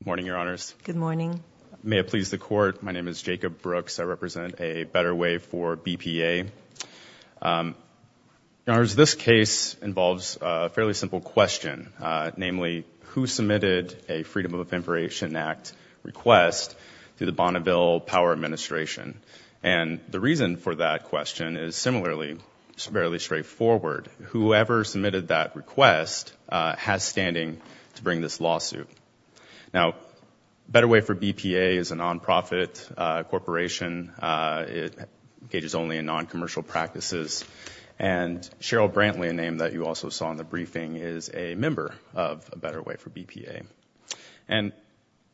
Good morning, Your Honors. Good morning. May it please the Court, my name is Jacob Brooks. I represent A Better Way for BPA. Your Honors, this case involves a fairly simple question, namely, who submitted a Freedom of Information Act request to the Bonneville Power Administration? And the reason for that question is similarly fairly straightforward. Whoever submitted that request has standing to bring this lawsuit. Now, A Better Way for BPA is a nonprofit corporation. It engages only in noncommercial practices. And Cheryl Brantley, a name that you also saw in the briefing, is a member of A Better Way for BPA. And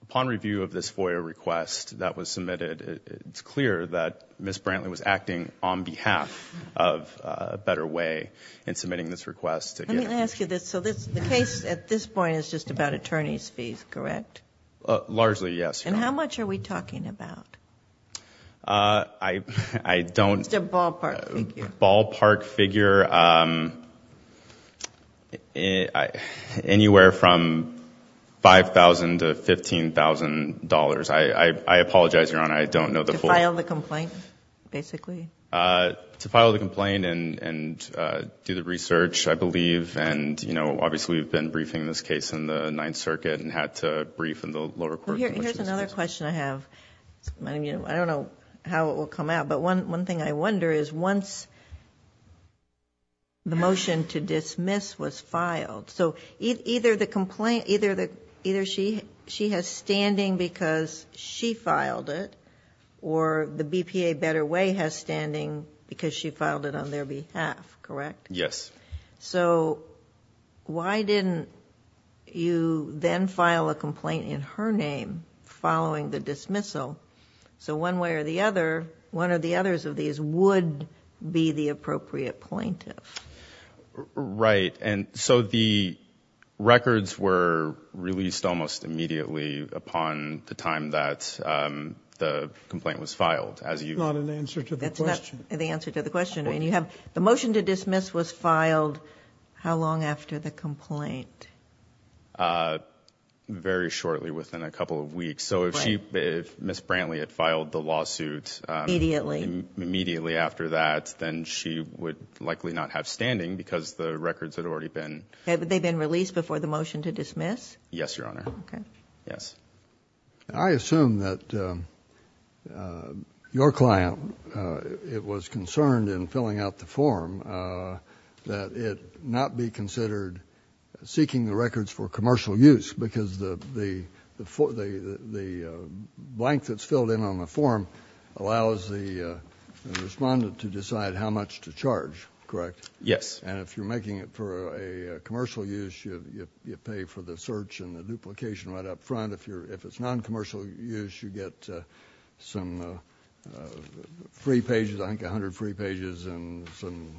upon review of this FOIA request that was submitted, it's clear that Ms. Brantley was acting on behalf of A Better Way in submitting this request. Let me ask you this. So the case at this point is just about attorney's fees, correct? Largely, yes. And how much are we talking about? I don't... It's a ballpark figure. Ballpark figure, anywhere from $5,000 to $15,000. I apologize, Your Honor, I don't know the full... To file the complaint, basically? To file the complaint and do the research, I believe. And obviously, we've been briefing this case in the Ninth Circuit and had to brief in the lower court... Here's another question I have. I don't know how it will come out. But one thing I wonder is once the motion to dismiss was filed, so either she has standing because she filed it or the BPA Better Way has standing because she filed it on their behalf, correct? Yes. So why didn't you then file a complaint in her name following the dismissal? So one way or the other, one of the others of these would be the appropriate plaintiff. Right. And so the records were released almost immediately upon the time that the complaint was filed. That's not an answer to the question. That's not the answer to the question. The motion to dismiss was filed how long after the complaint? Very shortly, within a couple of weeks. So if Ms. Brantley had filed the lawsuit... Immediately.... immediately after that, then she would likely not have standing because the records had already been... Had they been released before the motion to dismiss? Yes, Your Honor. Okay. Yes. I assume that your client was concerned in filling out the form that it not be considered seeking the records for commercial use because the blank that's filled in on the form allows the respondent to decide how much to charge, correct? Yes. And if you're making it for a commercial use, you pay for the search and the duplication right up front. If it's non-commercial use, you get some free pages, I think 100 free pages and some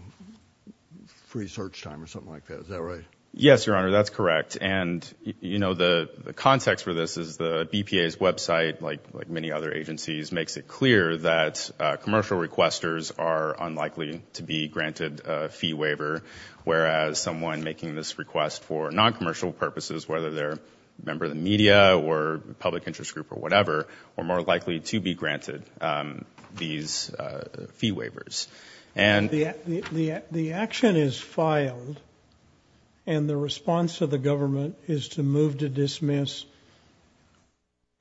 free search time or something like that. Is that right? Yes, Your Honor. That's correct. And, you know, the context for this is the BPA's website, like many other agencies, makes it clear that commercial requesters are unlikely to be granted a fee waiver, whereas someone making this request for non-commercial purposes, whether they're a member of the media or public interest group or whatever, are more likely to be granted these fee waivers. The action is filed, and the response of the government is to move to dismiss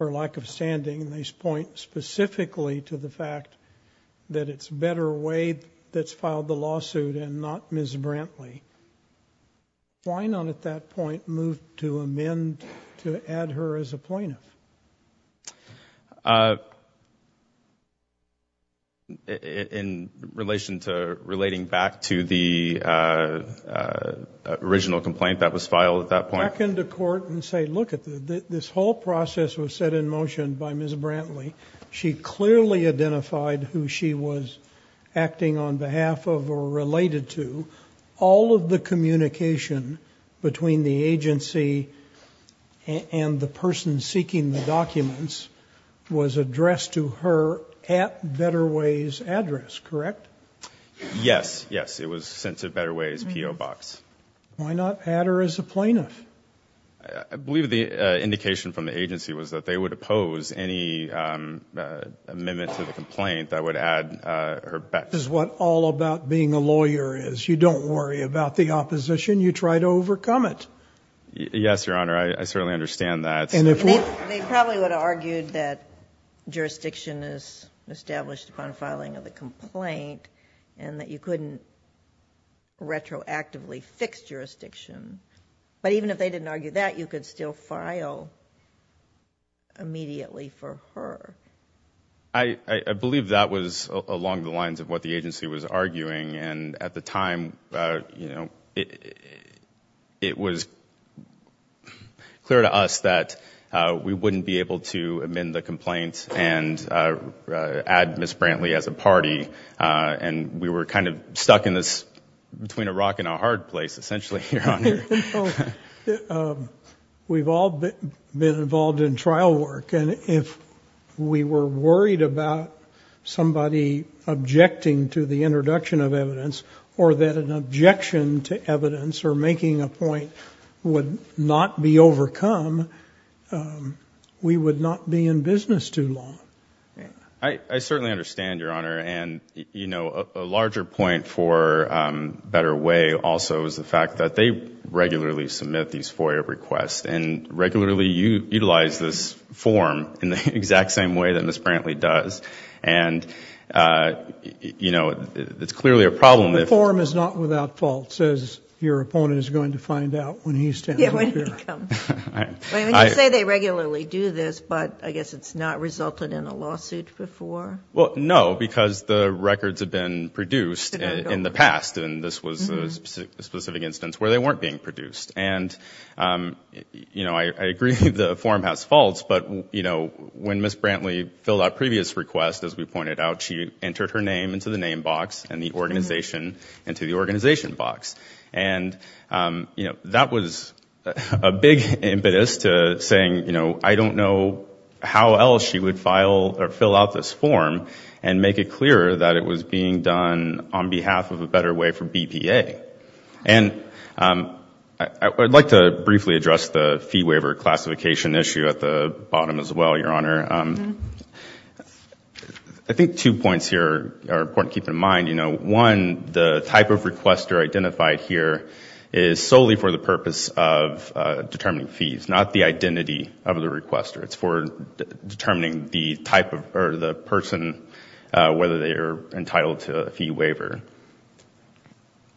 her lack of standing. They point specifically to the fact that it's better Wade that's filed the lawsuit and not Ms. Brantley. Why not at that point move to amend to add her as a plaintiff? In relation to relating back to the original complaint that was filed at that point? Back into court and say, look, this whole process was set in motion by Ms. Brantley. She clearly identified who she was acting on behalf of or related to. All of the communication between the agency and the person seeking the documents was addressed to her at Better Ways address, correct? Yes, yes. It was sent to Better Ways PO box. Why not add her as a plaintiff? I believe the indication from the agency was that they would oppose any amendment to the complaint that would add her back. That is what all about being a lawyer is. You don't worry about the opposition. You try to overcome it. Yes, Your Honor. I certainly understand that. They probably would have argued that jurisdiction is established upon filing of the complaint and that you couldn't retroactively fix jurisdiction. But even if they didn't argue that, you could still file immediately for her. I believe that was along the lines of what the agency was arguing. And at the time, you know, it was clear to us that we wouldn't be able to amend the complaint and add Ms. Brantley as a party. And we were kind of stuck in this between a rock and a hard place, essentially. We've all been involved in trial work. And if we were worried about somebody objecting to the introduction of evidence or that an objection to evidence or making a point would not be overcome, we would not be in business too long. I certainly understand, Your Honor. And, you know, a larger point for Better Way also is the fact that they regularly submit these FOIA requests and regularly utilize this form in the exact same way that Ms. Brantley does. And, you know, it's clearly a problem. The form is not without faults, as your opponent is going to find out when he's standing up here. Yeah, when he comes. I mean, you say they regularly do this, but I guess it's not resulted in a lawsuit before? Well, no, because the records have been produced in the past. And this was a specific instance where they weren't being produced. And, you know, I agree the form has faults. But, you know, when Ms. Brantley filled out previous requests, as we pointed out, she entered her name into the name box and the organization into the organization box. And, you know, that was a big impetus to saying, you know, I don't know how else she would file or fill out this form and make it clear that it was being done on behalf of a Better Way for BPA. And I would like to briefly address the fee waiver classification issue at the bottom as well, Your Honor. I think two points here are important to keep in mind. You know, one, the type of requester identified here is solely for the purpose of determining fees, not the identity of the requester. It's for determining the type or the person, whether they are entitled to a fee waiver.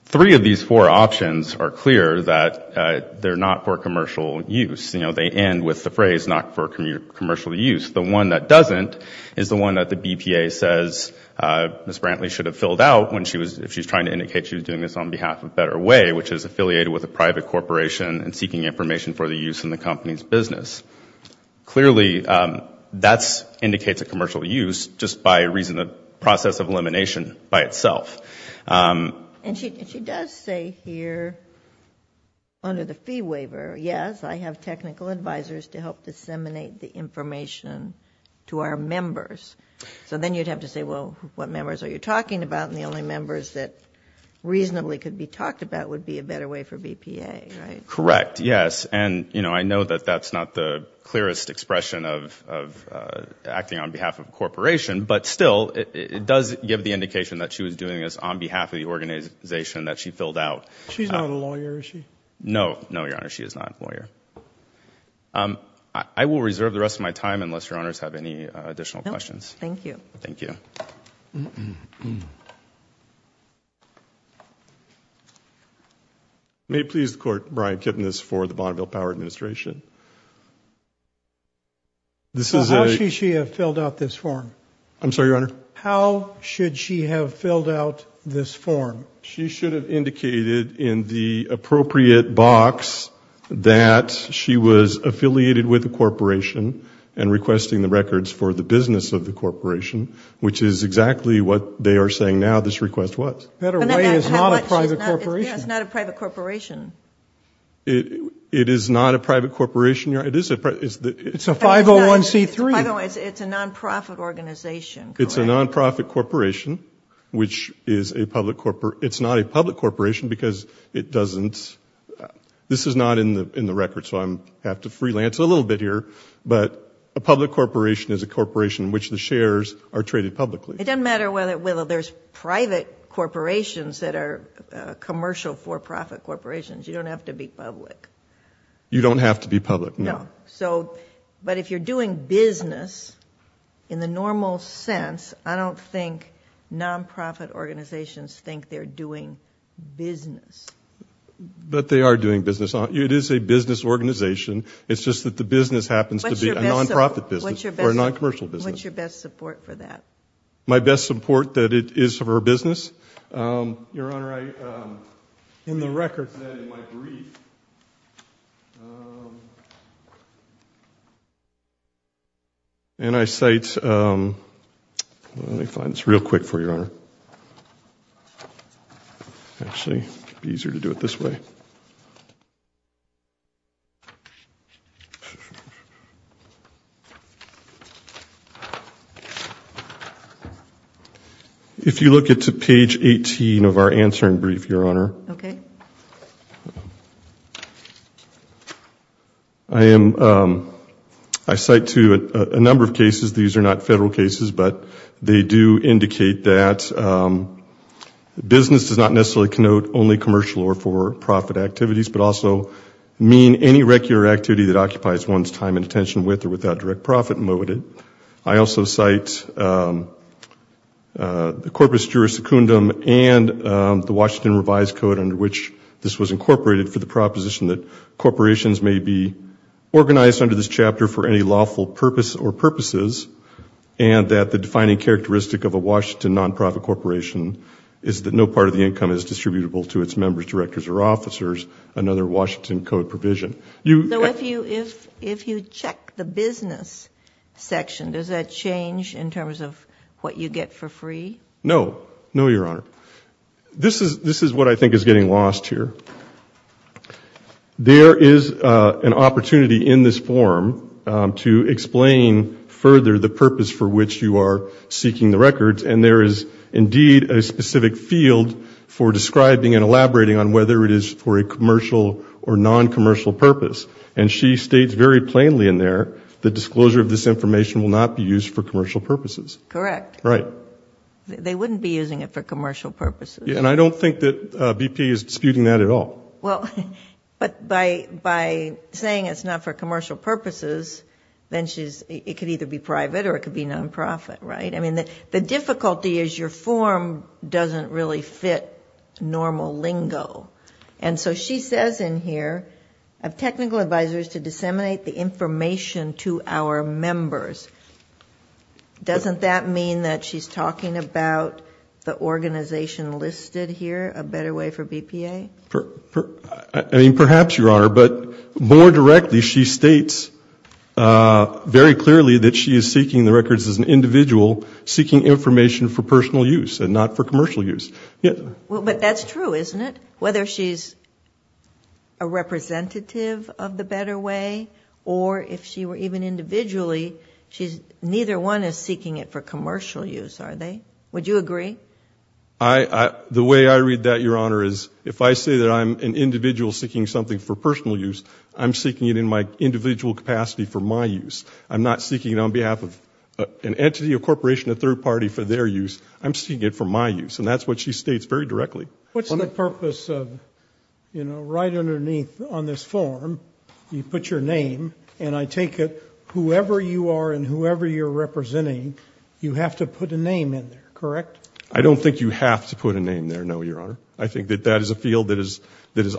Three of these four options are clear that they're not for commercial use. You know, they end with the phrase not for commercial use. The one that doesn't is the one that the BPA says Ms. Brantley should have filled out if she was trying to indicate she was doing this on behalf of Better Way, which is affiliated with a private corporation and seeking information for the use in the company's business. Clearly, that indicates a commercial use just by reason of process of elimination by itself. And she does say here under the fee waiver, yes, I have technical advisors to help disseminate the information to our members. So then you'd have to say, well, what members are you talking about? And the only members that reasonably could be talked about would be a Better Way for BPA, right? Correct, yes. And, you know, I know that that's not the clearest expression of acting on behalf of a corporation. But still, it does give the indication that she was doing this on behalf of the organization that she filled out. She's not a lawyer, is she? No, no, Your Honor. She is not a lawyer. I will reserve the rest of my time unless Your Honors have any additional questions. No, thank you. Thank you. May it please the Court, Brian Kipnis for the Bonneville Power Administration. How should she have filled out this form? I'm sorry, Your Honor? How should she have filled out this form? She should have indicated in the appropriate box that she was affiliated with a corporation and requesting the records for the business of the corporation, which is exactly what they are saying now this request was. Better Way is not a private corporation. Yes, it's not a private corporation. It is not a private corporation, Your Honor. It's a 501C3. It's a non-profit organization. It's a non-profit corporation, which is a public corporation. It's not a public corporation because it doesn't – this is not in the records, so I have to freelance a little bit here. But a public corporation is a corporation in which the shares are traded publicly. It doesn't matter whether there's private corporations that are commercial for-profit corporations. You don't have to be public. You don't have to be public, no. But if you're doing business in the normal sense, I don't think non-profit organizations think they're doing business. But they are doing business. It is a business organization. It's just that the business happens to be a non-profit business or a non-commercial business. What's your best support for that? My best support that it is for business? Your Honor, in the records that are in my brief, and I cite – let me find this real quick for you, Your Honor. Actually, it would be easier to do it this way. If you look at to page 18 of our answering brief, Your Honor. Okay. I am – I cite to a number of cases. These are not federal cases, but they do indicate that business does not necessarily connote only commercial or for-profit activities, but also mean any regular activity that occupies one's time and attention with or without direct profit motive. I also cite the Corpus Juris Secundum and the Washington Revised Code under which this was incorporated for the proposition that corporations may be organized under this chapter for any lawful purpose or purposes and that the defining characteristic of a Washington non-profit corporation is that no part of the income is distributable to its members, directors, or officers, another Washington Code provision. So if you check the business section, does that change in terms of what you get for free? No. No, Your Honor. This is what I think is getting lost here. There is an opportunity in this form to explain further the purpose for which you are seeking the records, and there is indeed a specific field for describing and elaborating on whether it is for a commercial or non-commercial purpose, and she states very plainly in there the disclosure of this information will not be used for commercial purposes. Correct. Right. They wouldn't be using it for commercial purposes. And I don't think that BP is disputing that at all. Well, but by saying it's not for commercial purposes, then it could either be private or it could be non-profit, right? I mean, the difficulty is your form doesn't really fit normal lingo. And so she says in here, I have technical advisors to disseminate the information to our members. Doesn't that mean that she's talking about the organization listed here, a better way for BPA? I mean, perhaps, Your Honor, but more directly, she states very clearly that she is seeking the records as an individual seeking information for personal use and not for commercial use. But that's true, isn't it? Whether she's a representative of the better way or if she were even individually, neither one is seeking it for commercial use, are they? Would you agree? The way I read that, Your Honor, is if I say that I'm an individual seeking something for personal use, I'm seeking it in my individual capacity for my use. I'm not seeking it on behalf of an entity, a corporation, a third party for their use. I'm seeking it for my use. And that's what she states very directly. What's the purpose of, you know, right underneath on this form, you put your name, and I take it whoever you are and whoever you're representing, you have to put a name in there, correct? I don't think you have to put a name there, no, Your Honor. I think that that is a field that is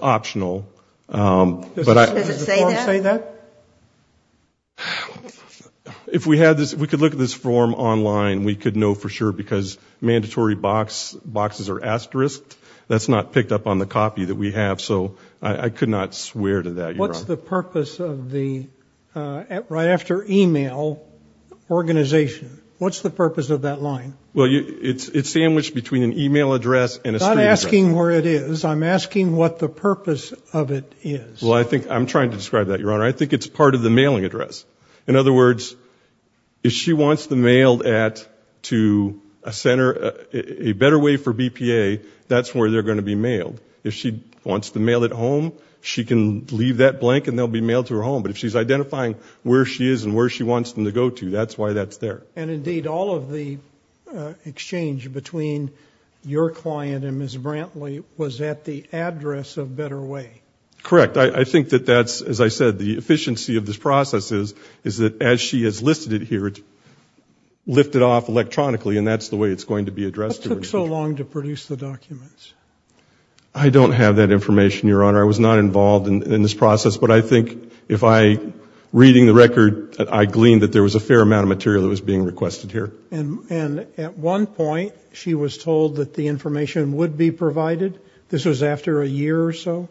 optional. Does it say that? If we had this, if we could look at this form online, we could know for sure because mandatory boxes are asterisked. That's not picked up on the copy that we have, so I could not swear to that, Your Honor. What's the purpose of the right after email organization? What's the purpose of that line? Well, it's sandwiched between an email address and a street address. I'm not asking where it is. I'm asking what the purpose of it is. Well, I think I'm trying to describe that, Your Honor. I think it's part of the mailing address. In other words, if she wants them mailed at to a center, a better way for BPA, that's where they're going to be mailed. If she wants them mailed at home, she can leave that blank and they'll be mailed to her home. But if she's identifying where she is and where she wants them to go to, that's why that's there. And, indeed, all of the exchange between your client and Ms. Brantley was at the address of Better Way. Correct. I think that that's, as I said, the efficiency of this process is that as she has listed it here, it's lifted off electronically, and that's the way it's going to be addressed. What took so long to produce the documents? I don't have that information, Your Honor. I was not involved in this process. But I think if I, reading the record, I gleaned that there was a fair amount of material that was being requested here. And at one point she was told that the information would be provided. This was after a year or so?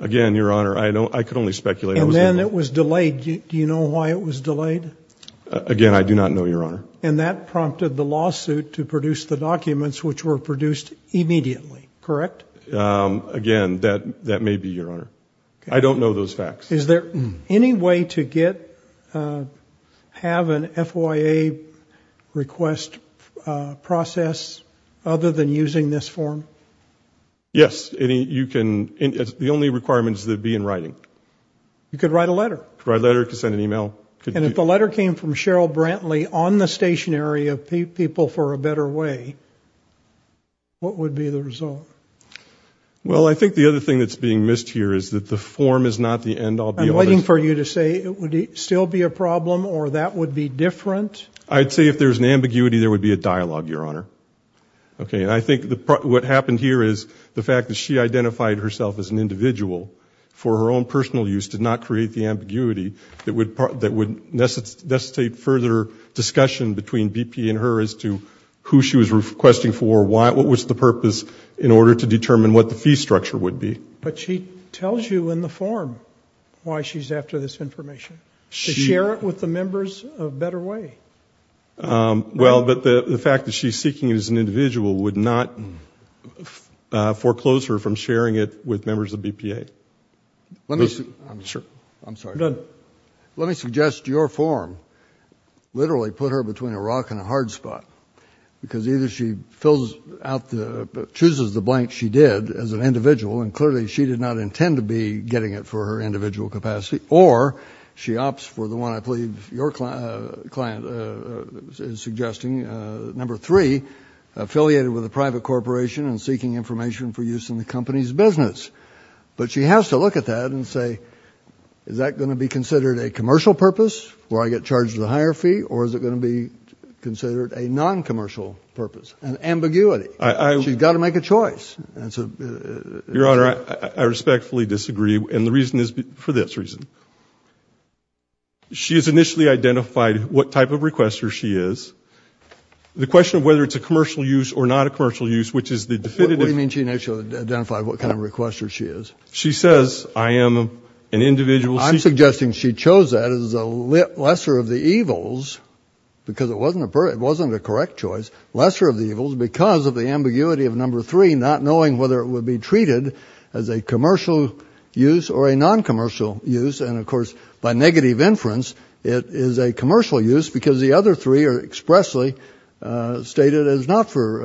Again, Your Honor, I could only speculate. And then it was delayed. Do you know why it was delayed? Again, I do not know, Your Honor. And that prompted the lawsuit to produce the documents, which were produced immediately. Correct? Again, that may be, Your Honor. I don't know those facts. Is there any way to get, have an FYA request process other than using this form? Yes. You can, the only requirement is that it be in writing. You could write a letter. Write a letter, could send an email. And if the letter came from Cheryl Brantley on the stationery of People for a Better Way, what would be the result? Well, I think the other thing that's being missed here is that the form is not the end-all, be-all. I'm waiting for you to say, would it still be a problem or that would be different? I'd say if there's an ambiguity, there would be a dialogue, Your Honor. Okay. And I think what happened here is the fact that she identified herself as an individual for her own personal use, did not create the ambiguity that would necessitate further discussion between BP and her as to who she was requesting for, what was the purpose in order to determine what the fee structure would be. But she tells you in the form why she's after this information, to share it with the members of Better Way. Well, but the fact that she's seeking it as an individual would not foreclose her from sharing it with members of BPA. Let me suggest your form literally put her between a rock and a hard spot because either she chooses the blank she did as an individual, and clearly she did not intend to be getting it for her individual capacity, or she opts for the one I believe your client is suggesting, number three, affiliated with a private corporation and seeking information for use in the company's business. But she has to look at that and say, is that going to be considered a commercial purpose, where I get charged a higher fee, or is it going to be considered a noncommercial purpose, an ambiguity? She's got to make a choice. Your Honor, I respectfully disagree. And the reason is for this reason. She has initially identified what type of requester she is. The question of whether it's a commercial use or not a commercial use, which is the definitive. What do you mean she initially identified what kind of requester she is? She says, I am an individual. I'm suggesting she chose that as a lesser of the evils because it wasn't a correct choice, lesser of the evils because of the ambiguity of number three, not knowing whether it would be treated as a commercial use or a noncommercial use. And, of course, by negative inference, it is a commercial use because the other three are expressly stated as not for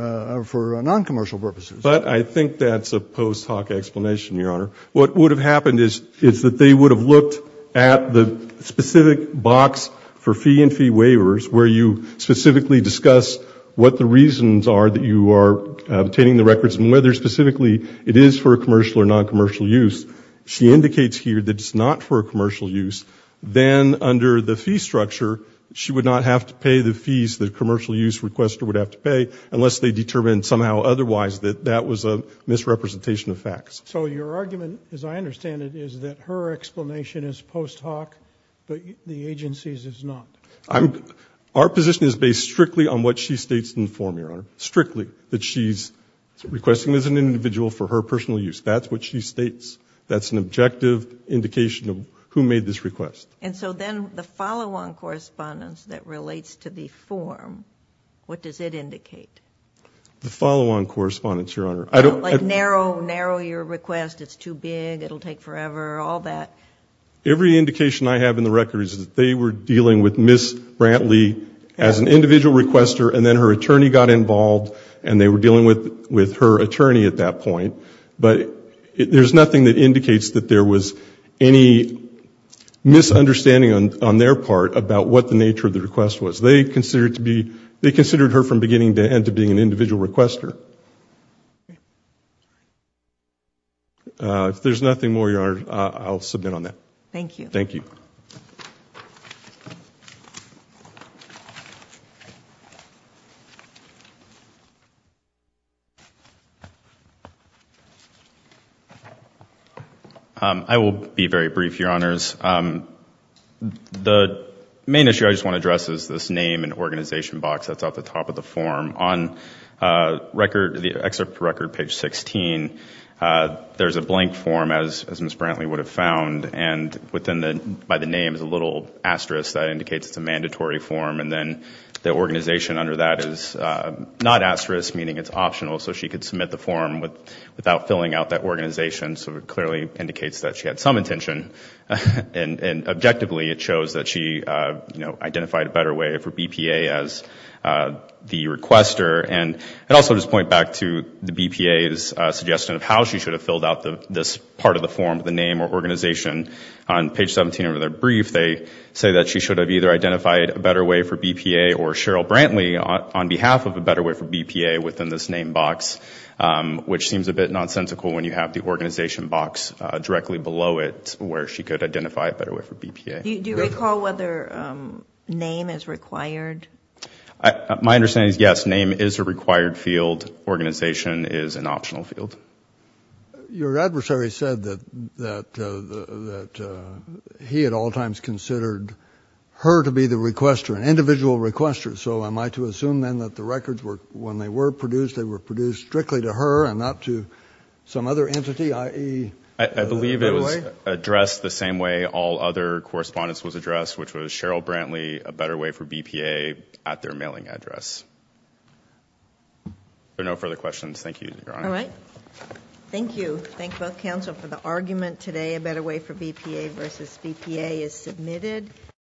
noncommercial purposes. But I think that's a post hoc explanation, Your Honor. What would have happened is that they would have looked at the specific box for fee and fee waivers where you specifically discuss what the reasons are that you are obtaining the records and whether specifically it is for a commercial or noncommercial use. She indicates here that it's not for a commercial use. Then under the fee structure, she would not have to pay the fees the commercial use requester would have to pay unless they determined somehow otherwise that that was a misrepresentation of facts. So your argument, as I understand it, is that her explanation is post hoc, but the agency's is not? Our position is based strictly on what she states in the form, Your Honor, strictly that she's requesting as an individual for her personal use. That's what she states. That's an objective indication of who made this request. And so then the follow-on correspondence that relates to the form, what does it indicate? The follow-on correspondence, Your Honor. Like narrow your request, it's too big, it will take forever, all that. Every indication I have in the records is that they were dealing with Ms. Brantley as an individual requester and then her attorney got involved and they were dealing with her attorney at that point. But there's nothing that indicates that there was any misunderstanding on their part about what the nature of the request was. They considered her from beginning to end to being an individual requester. If there's nothing more, Your Honor, I'll submit on that. Thank you. Thank you. I will be very brief, Your Honors. The main issue I just want to address is this name and organization box that's at the top of the form. On the excerpt for record, page 16, there's a blank form, as Ms. Brantley would have found, and by the name is a little asterisk that indicates it's a mandatory form, and then the organization under that is not asterisk, meaning it's optional, so she could submit the form without filling out that organization. So it clearly indicates that she had some intention, and objectively it shows that she identified a better way for BPA as the requester. And I'd also just point back to the BPA's suggestion of how she should have filled out this part of the form, the name or organization. On page 17 of their brief, they say that she should have either identified a better way for BPA or Cheryl Brantley on behalf of a better way for BPA within this name box, which seems a bit nonsensical when you have the organization box directly below it where she could identify a better way for BPA. Do you recall whether name is required? My understanding is, yes, name is a required field. Organization is an optional field. Your adversary said that he at all times considered her to be the requester, an individual requester, so am I to assume then that the records were, when they were produced, they were produced strictly to her and not to some other entity, i.e. a better way? I believe it was addressed the same way all other correspondence was addressed, which was Cheryl Brantley, a better way for BPA, at their mailing address. There are no further questions. Thank you, Your Honor. All right. Thank you. Thank both counsel for the argument today, a better way for BPA versus BPA is submitted.